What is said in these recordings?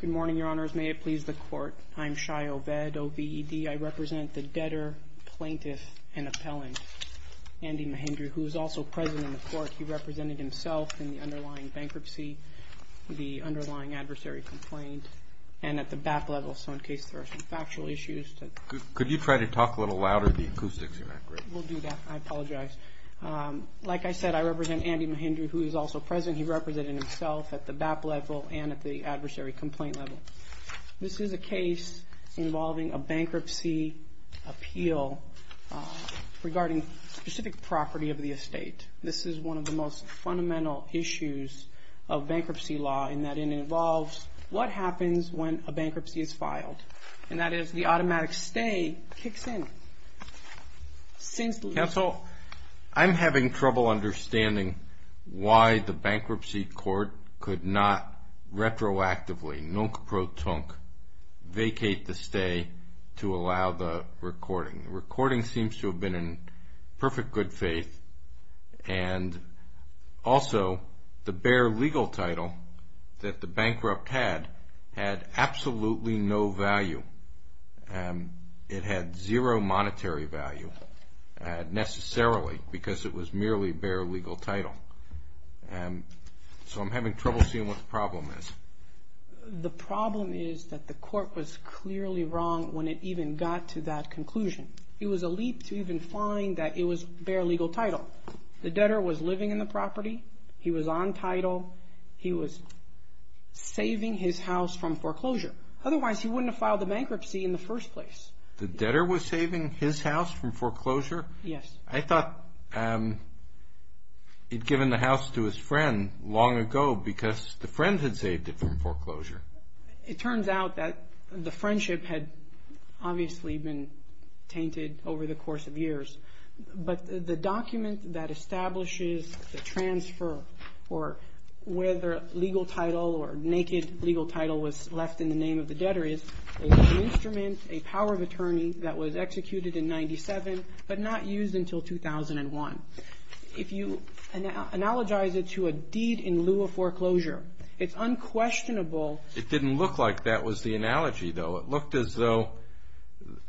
Good morning, Your Honors. May it please the Court, I am Shai Oved, O-V-E-D. I represent the debtor, plaintiff, and appellant, Andy Mahindru, who is also present in the Court. He represented himself in the underlying bankruptcy, the underlying adversary complaint, and at the BAP level, so in case there are some factual issues. Could you try to talk a little louder? The acoustics are not great. We'll do that. I apologize. Like I said, I represent Andy Mahindru, who is also present. He represented himself at the BAP level and at the adversary complaint level. This is a case involving a bankruptcy appeal regarding specific property of the estate. This is one of the most fundamental issues of bankruptcy law in that it involves what happens when a bankruptcy is filed, and that is the automatic stay kicks in. Counsel, I'm having trouble understanding why the bankruptcy court could not retroactively, nunc pro tunc, vacate the stay to allow the recording. The recording seems to have been in perfect good faith, and also the bare legal title that the bankrupt had had absolutely no value. It had zero monetary value, necessarily, because it was merely bare legal title. So I'm having trouble seeing what the problem is. The problem is that the court was clearly wrong when it even got to that conclusion. It was a leap to even find that it was bare legal title. The debtor was living in the house. Otherwise, he wouldn't have filed the bankruptcy in the first place. The debtor was saving his house from foreclosure? Yes. I thought he'd given the house to his friend long ago because the friend had saved it from foreclosure. It turns out that the friendship had obviously been tainted over the course of years, but the document that establishes the transfer or whether legal title or naked legal title was left in the name of the debtor is an instrument, a power of attorney that was executed in 97, but not used until 2001. If you analogize it to a deed in lieu of foreclosure, it's unquestionable... It didn't look like that was the analogy, though. It looked as though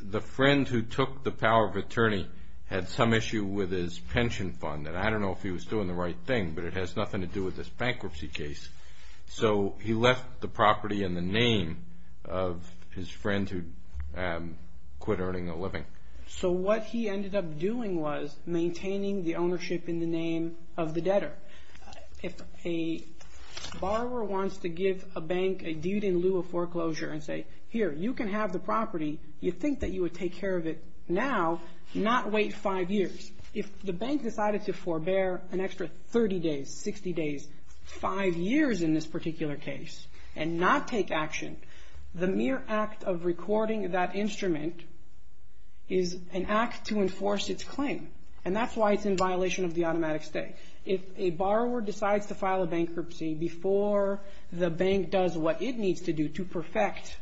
the friend who took the power of attorney had some issue with his pension fund, and I don't know if he was doing the right thing, but it has nothing to do with this bankruptcy case. So he left the property in the name of his friend who quit earning a living. So what he ended up doing was maintaining the ownership in the name of the debtor. If a borrower wants to give a bank a deed in lieu of foreclosure and say, here, you can have the property. You think that you would take care of it now, not wait five years. If the bank decided to forbear an extra 30 days, 60 days, five years in this particular case and not take action, the mere act of recording that instrument is an act to enforce its claim, and that's why it's in violation of the automatic stay. If a borrower decides to file a bankruptcy before the bank does what it needs to do to perfect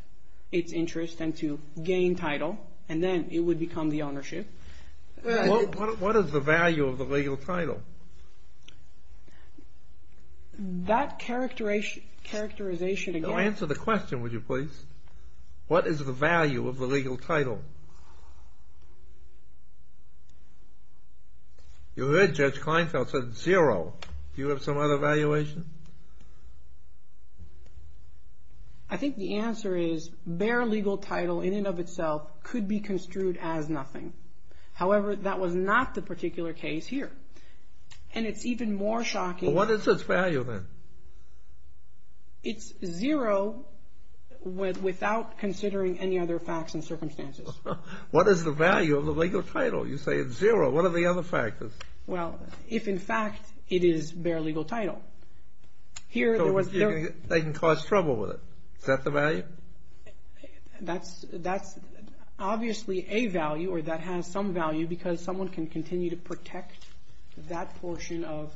its interest and to gain title, and then it would become the ownership. What is the value of the legal title? That characterization again... Answer the question, would you please? What is the value of the legal title? You heard Judge Kleinfeld said zero. Do you have some other valuation? I think the answer is bare legal title in and of itself could be construed as nothing. However, that was not the particular case here. And it's even more shocking... What is its value then? It's zero without considering any other facts and circumstances. What is the value of the legal title? You say it's zero. What are the other factors? Well, if in fact it is bare legal title. They can cause trouble with it. Is that the value? That's obviously a value or that has some value because someone can continue to protect that portion of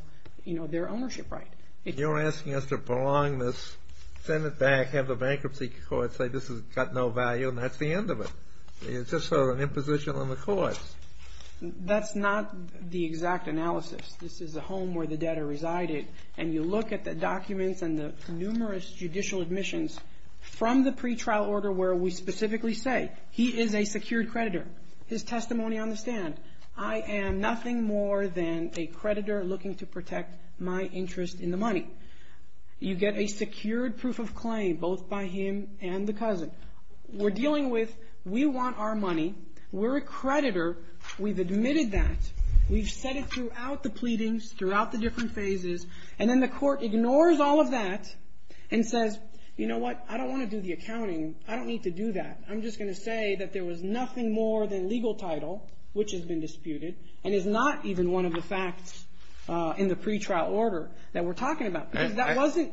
their ownership right. You're asking us to prolong this, send it back, have the bankruptcy court say this has got no value and that's the end of it. It's just sort of an imposition on the courts. That's not the exact analysis. This is a home where the debtor resided and you look at the documents and the numerous judicial admissions from the pretrial order where we specifically say he is a secured creditor. His testimony on the stand. I am nothing more than a creditor looking to protect my interest in the money. You get a secured proof of claim both by him and the cousin. We're dealing with, we want our money. We're a creditor. We've admitted that. We've said it throughout the pleadings, throughout the different phases and then the court ignores all of that and says, you know what, I don't want to do the accounting. I don't need to do that. I'm just going to say that there was nothing more than legal title which has been disputed and is not even one of the facts in the pretrial order that we're talking about because that wasn't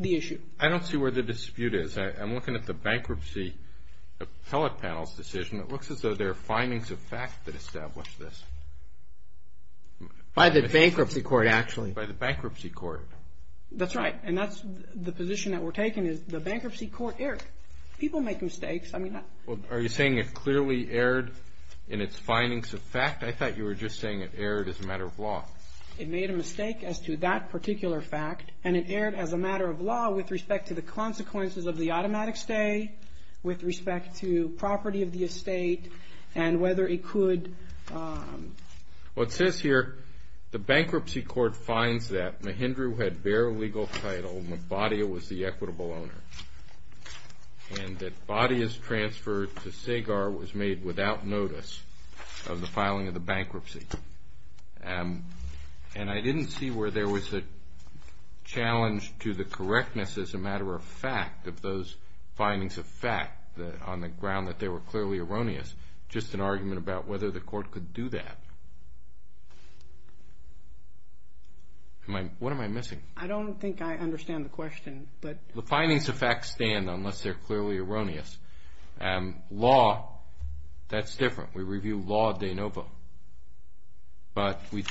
the issue. I don't see where the dispute is. I'm looking at the bankruptcy appellate panel's decision. It looks as though there are findings of fact that established this. By the bankruptcy court, actually. By the bankruptcy court. That's right. And that's the position that we're taking is the bankruptcy court erred. People make mistakes. I mean, that's. Well, are you saying it clearly erred in its findings of fact? I thought you were just saying it erred as a matter of law. It made a mistake as to that particular fact, and it erred as a matter of law with respect to the consequences of the automatic stay, with respect to property of the estate, and whether it could. What says here, the bankruptcy court finds that Mahindra had bare legal title, and that Bhatia was the equitable owner, and that Bhatia's transfer to Sagar was made without notice of the filing of the bankruptcy. And I didn't see where there was a challenge to the correctness as a matter of fact of those findings of fact, on the ground that they were clearly erroneous. Just an argument about whether the court could do that. What am I missing? I don't think I understand the question, but. The findings of fact stand, unless they're clearly erroneous. And law, that's different. We review law de novo, but we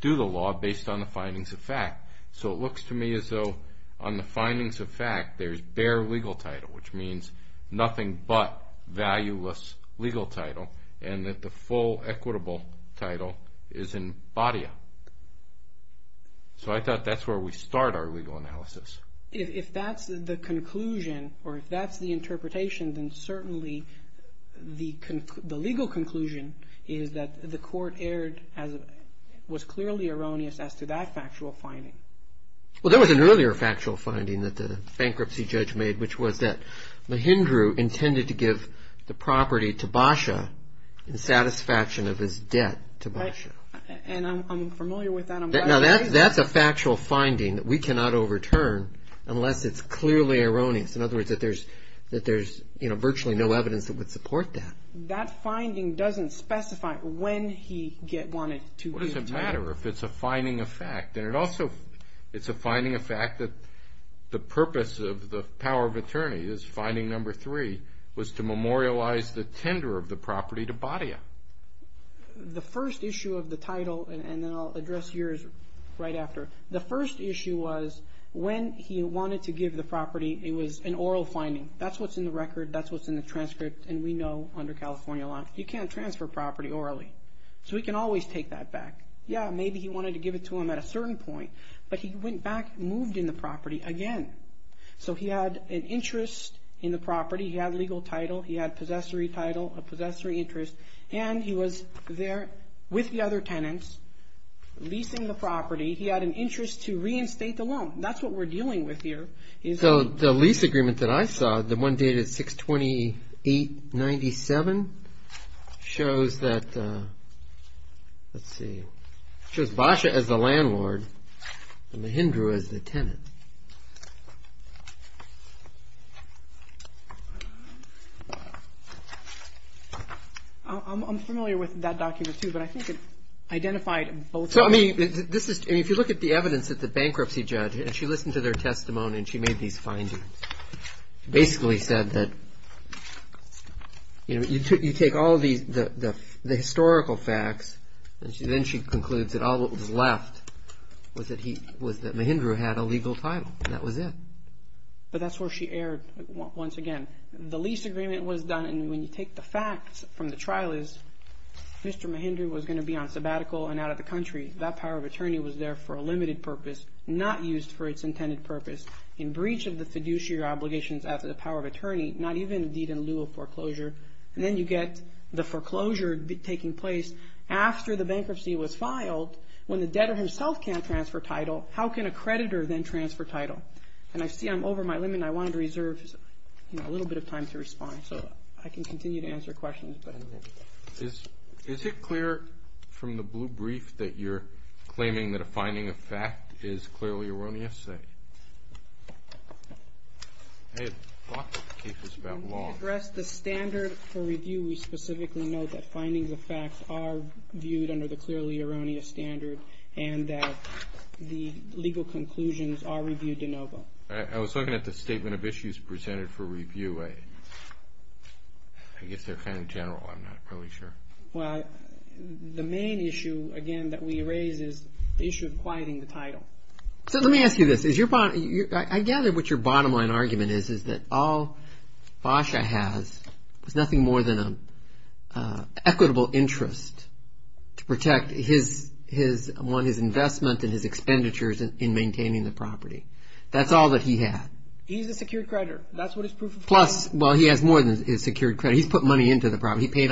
do the law based on the findings of fact. So it looks to me as though on the findings of fact, there's bare legal title, which means nothing but valueless legal title, and that the full equitable title is in Bhatia. So I thought that's where we start our legal analysis. If that's the conclusion, or if that's the interpretation, then certainly the legal conclusion is that the court was clearly erroneous as to that factual finding. Well, there was an earlier factual finding that the bankruptcy judge made, which was that Mahindra intended to give the property to Bhatia in satisfaction of his debt to Bhatia. And I'm familiar with that. That's a factual finding that we cannot overturn unless it's clearly erroneous. In other words, that there's virtually no evidence that would support that. That finding doesn't specify when he wanted to give the title. What does it matter if it's a finding of fact? And it also, it's a finding of fact that the purpose of the power of attorney, this finding number three, was to memorialize the tender of the property to Bhatia. The first issue of the title, and then I'll address yours right after. The first issue was when he wanted to give the property, it was an oral finding. That's what's in the record. That's what's in the transcript. And we know under California law, you can't transfer property orally. So he can always take that back. Yeah, maybe he wanted to give it to him at a certain point. But he went back, moved in the property again. So he had an interest in the property. He had a legal title. He had a possessory title, a possessory interest. And he was there with the other tenants, leasing the property. He had an interest to reinstate the loan. That's what we're dealing with here. So the lease agreement that I saw, the one dated 6-28-97, shows that, let's see. Shows Bhatia as the landlord and Mahindra as the tenant. I'm familiar with that document, too. But I think it identified both of them. If you look at the evidence at the bankruptcy judge, and she listened to their testimony, and she made these findings, basically said that you take all of the historical facts, and then she concludes that all that was left was that Mahindra had a legal title. That was it. But that's where she erred, once again. The lease agreement was done. And when you take the facts from the trial is, Mr. Mahindra was going to be on sabbatical and out of the country. That power of attorney was there for a limited purpose, not used for its intended purpose. In breach of the fiduciary obligations after the power of attorney, not even in deed in lieu of foreclosure. And then you get the foreclosure taking place after the bankruptcy was filed, when the debtor himself can't transfer title, how can a creditor then transfer title? And I see I'm over my limit, and I wanted to reserve a little bit of time to respond. So I can continue to answer questions, but I'm limited. Is it clear from the blue brief that you're claiming that a finding of fact is clearly erroneous? I had thought that the case was about law. When we address the standard for review, we specifically note that findings of facts are viewed under the clearly erroneous standard, and that the legal conclusions are reviewed de novo. I was looking at the statement of issues presented for review. I guess they're kind of general, I'm not really sure. Well, the main issue, again, that we raise is the issue of quieting the title. So let me ask you this. I gather what your bottom line argument is, is that all Basha has is nothing more than an equitable interest to protect his investment and his expenditures in maintaining the property. That's all that he had. Plus, well, he has more than his secured credit. He's put money into the property, he paid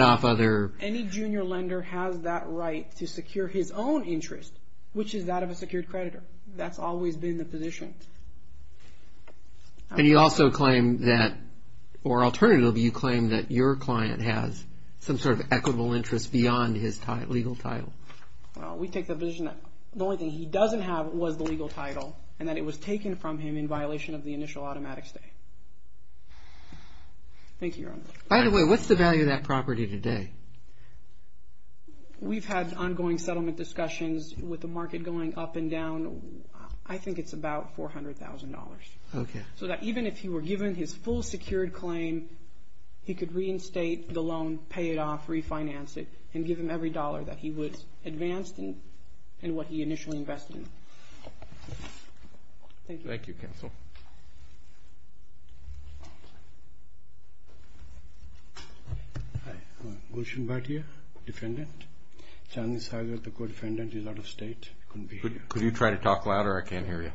off other... Any junior lender has that right to secure his own interest, which is that of a secured creditor. That's always been the position. And you also claim that, or alternatively, you claim that your client has some sort of equitable interest beyond his legal title. Well, we take the position that the only thing he doesn't have was the legal title, and that it was taken from him in violation of the initial automatic stay. Thank you, Your Honor. By the way, what's the value of that property today? We've had ongoing settlement discussions with the market going up and down. I think it's about $400,000. So that even if he were given his full secured claim, he could reinstate the loan, pay it off, refinance it, and give him every dollar that he would advance in what he initially invested in. Thank you. Thank you, counsel. Hi, Gulshan Bhatia, defendant. Chandni Sagar, the co-defendant, is out of state, couldn't be here. Could you try to talk louder? I can't hear you.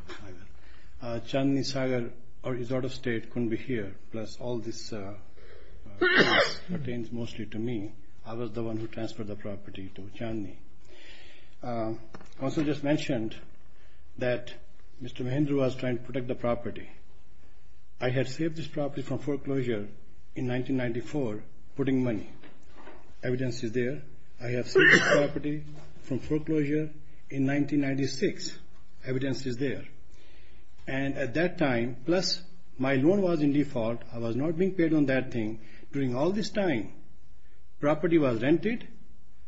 Chandni Sagar is out of state, couldn't be here. Plus, all this pertains mostly to me. I was the one who transferred the property to Chandni. I also just mentioned that Mr. Mahindra was trying to protect the property. I had saved this property from foreclosure in 1994, putting money. Evidence is there. I have saved this property from foreclosure in 1996. Evidence is there. And at that time, plus my loan was in default. I was not being paid on that thing. During all this time, property was rented.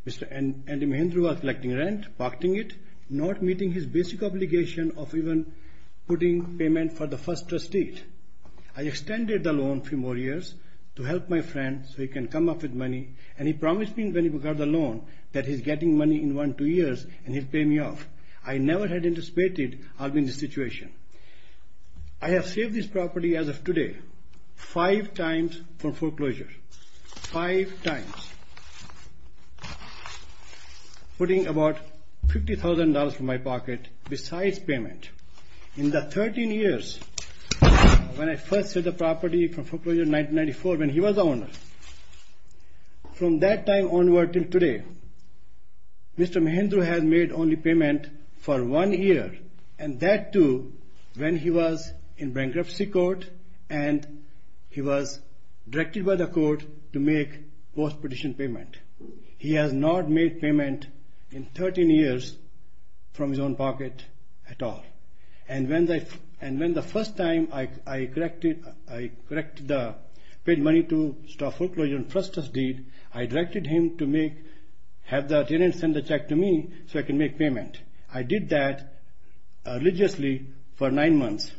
Mr. Andy Mahindra was collecting rent, protecting it, not meeting his basic obligation of even putting payment for the first trustee. I extended the loan a few more years to help my friend so he can come up with money. And he promised me when he got the loan that he's getting money in one, two years, and he'll pay me off. I never had anticipated I'll be in this situation. I have saved this property as of today five times from foreclosure, five times. Putting about $50,000 from my pocket besides payment. In the 13 years when I first set the property from foreclosure in 1994, when he was the owner, from that time onward to today, Mr. Mahindra has made only payment for one year. And that too, when he was in bankruptcy court, and he was directed by the court to make post-petition payment. He has not made payment in 13 years from his own pocket at all. And when the first time I paid money to stop foreclosure on first trust deed, I directed him to have the tenant send the check to me so I can make payment. I did that religiously for nine months.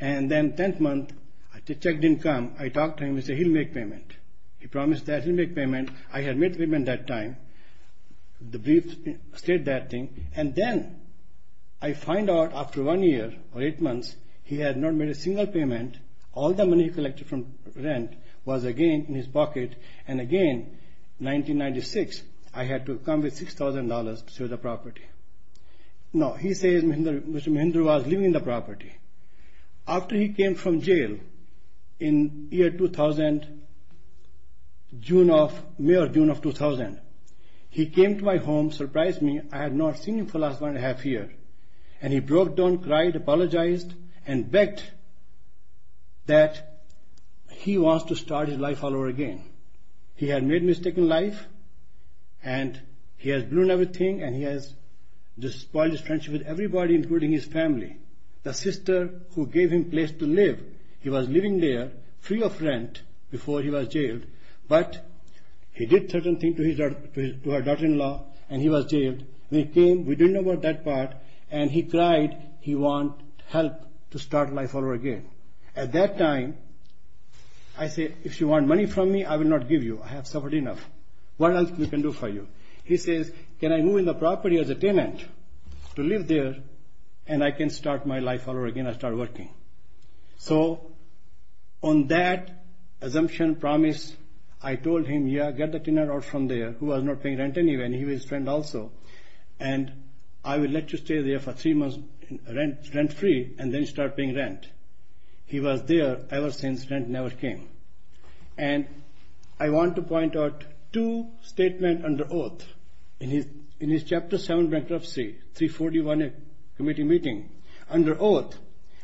And then tenth month, the check didn't come. I talked to him, he said he'll make payment. He promised that he'll make payment. I had made payment that time, the brief state that thing. And then I find out after one year or eight months, he had not made a single payment. All the money he collected from rent was again in his pocket. And again, 1996, I had to come with $6,000 to the property. Now, he says Mr. Mahindra was living in the property. After he came from jail in year 2000, June of, mere June of 2000, he came to my home, surprised me. I had not seen him for the last one and a half year. And he broke down, cried, apologized, and begged that he wants to start his life all over again. He had made a mistake in life, and he has ruined everything, and he has just spoiled his friendship with everybody, including his family. The sister who gave him place to live, he was living there free of rent before he was jailed. But he did certain things to her daughter-in-law, and he was jailed. We came, we didn't know about that part, and he cried he want help to start life all over again. At that time, I said, if you want money from me, I will not give you. I have suffered enough. What else we can do for you? He says, can I move in the property as a tenant to live there, and I can start my life all over again, I start working. So, on that assumption, promise, I told him, yeah, get the tenant out from there, who was not paying rent anyway, and he was friend also. And I will let you stay there for three months rent-free, and then start paying rent. He was there ever since rent never came. And I want to point out two statement under oath. In his chapter seven bankruptcy, 341 committee meeting, under oath,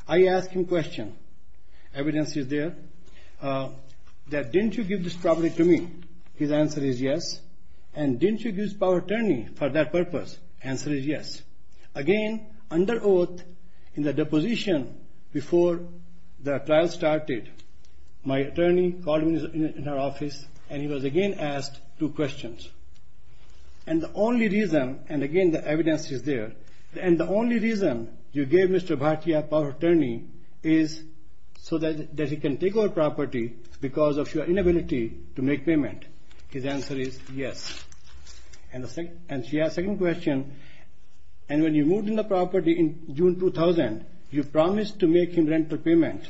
I asked him question. Evidence is there, that didn't you give this property to me? His answer is yes. And didn't you give power attorney for that purpose? Answer is yes. Again, under oath, in the deposition, before the trial started, my attorney called me in our office, and he was again asked two questions. And the only reason, and again, the evidence is there, and the only reason you gave Mr. Bhatia power attorney is so that he can take our property because of your inability to make payment. His answer is yes. And she has second question, and when you moved in the property in June 2000, you promised to make him rental payment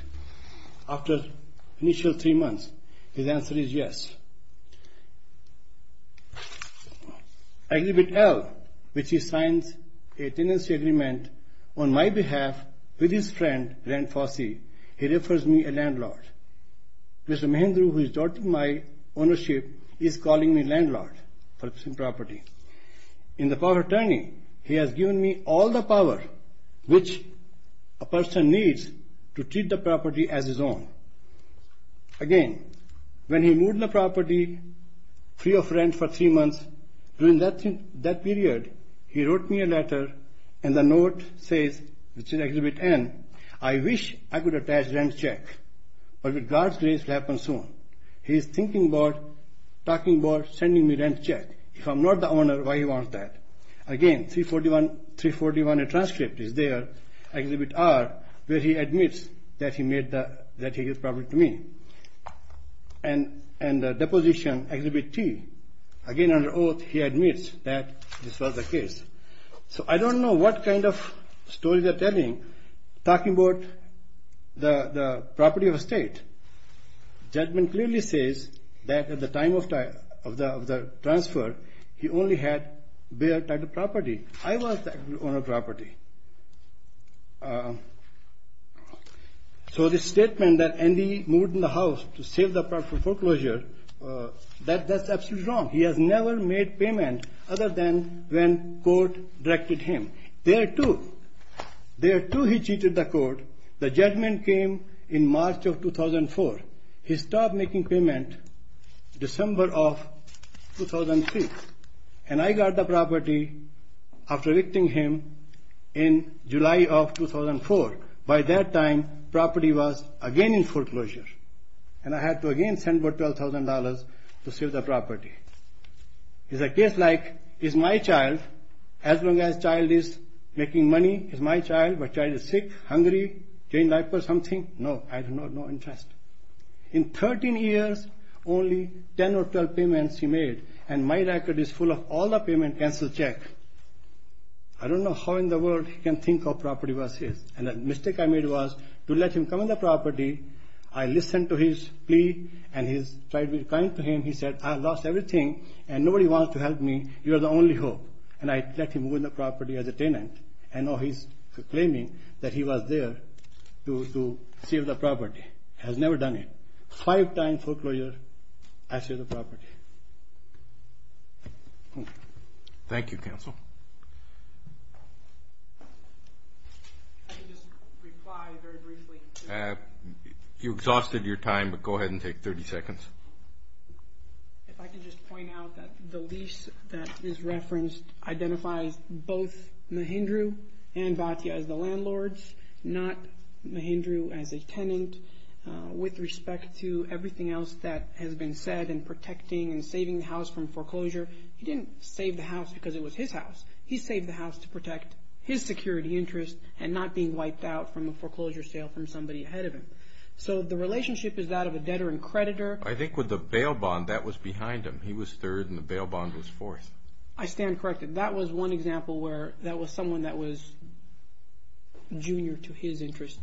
after initial three months. His answer is yes. I give it L, which he signs a tenancy agreement on my behalf with his friend, Ren Fossey, he refers me a landlord. Mr. Mahindra, who is not in my ownership, is calling me landlord for this property. In the power attorney, he has given me all the power which a person needs to treat the property as his own. Again, when he moved the property free of rent for three months, during that period, he wrote me a letter, and the note says, which is Exhibit N, I wish I could attach rent check, but with God's grace, it'll happen soon. He's thinking about, talking about sending me rent check. If I'm not the owner, why he wants that? Again, 341, a transcript is there, Exhibit R, where he admits that he gave the property to me. And the deposition, Exhibit T, again, under oath, he admits that this was the case. So, I don't know what kind of story they're telling, talking about the property of a state. Judgment clearly says that at the time of the transfer, he only had their title property. I was the owner of the property. So, the statement that Andy moved in the house to save the property for foreclosure, that's absolutely wrong. He has never made payment other than when court directed him. There, too, there, too, he cheated the court. The judgment came in March of 2004. He stopped making payment December of 2003. And I got the property after evicting him in July of 2004. By that time, property was again in foreclosure. And I had to, again, send over $12,000 to save the property. It's a case like, is my child, as long as child is making money, is my child, my child is sick, hungry, change diapers, something? No, I have no interest. In 13 years, only 10 or 12 payments he made, and my record is full of all the payment, cancel, check. I don't know how in the world he can think of property was his. And the mistake I made was to let him come on the property, I listened to his plea, and he tried to be kind to him. He said, I lost everything, and nobody wants to help me, you're the only hope. And I let him move in the property as a tenant. And now he's claiming that he was there to save the property. Has never done it. Five times foreclosure, I save the property. Thank you, counsel. You exhausted your time, but go ahead and take 30 seconds. If I could just point out that the lease that is referenced identifies both Mahindra and Bhatia as the landlords, not Mahindra as a tenant. With respect to everything else that has been said in protecting and He saved the house to protect his security interest and not being wiped out from a foreclosure sale from somebody ahead of him. So the relationship is that of a debtor and creditor. I think with the bail bond, that was behind him. He was third and the bail bond was fourth. I stand corrected. That was one example where that was someone that was junior to his interest.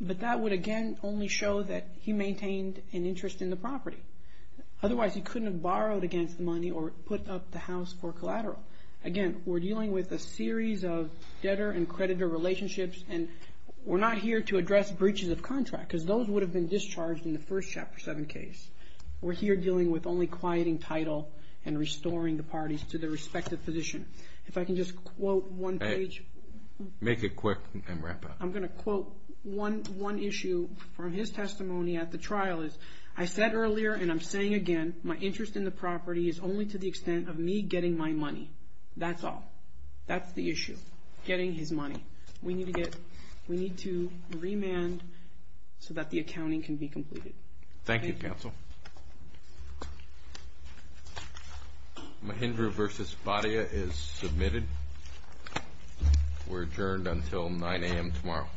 But that would again only show that he maintained an interest in the property. Otherwise, he couldn't have borrowed against the money or put up the house for collateral. Again, we're dealing with a series of debtor and creditor relationships. And we're not here to address breaches of contract, because those would have been discharged in the first Chapter 7 case. We're here dealing with only quieting title and restoring the parties to their respective position. If I can just quote one page. Make it quick and wrap up. I'm going to quote one issue from his testimony at the trial. I said earlier, and I'm saying again, my interest in the property is only to the extent of me getting my money. That's all. That's the issue. Getting his money. We need to remand so that the accounting can be completed. Thank you, counsel. Mahindra versus Baria is submitted. We're adjourned until 9 AM tomorrow.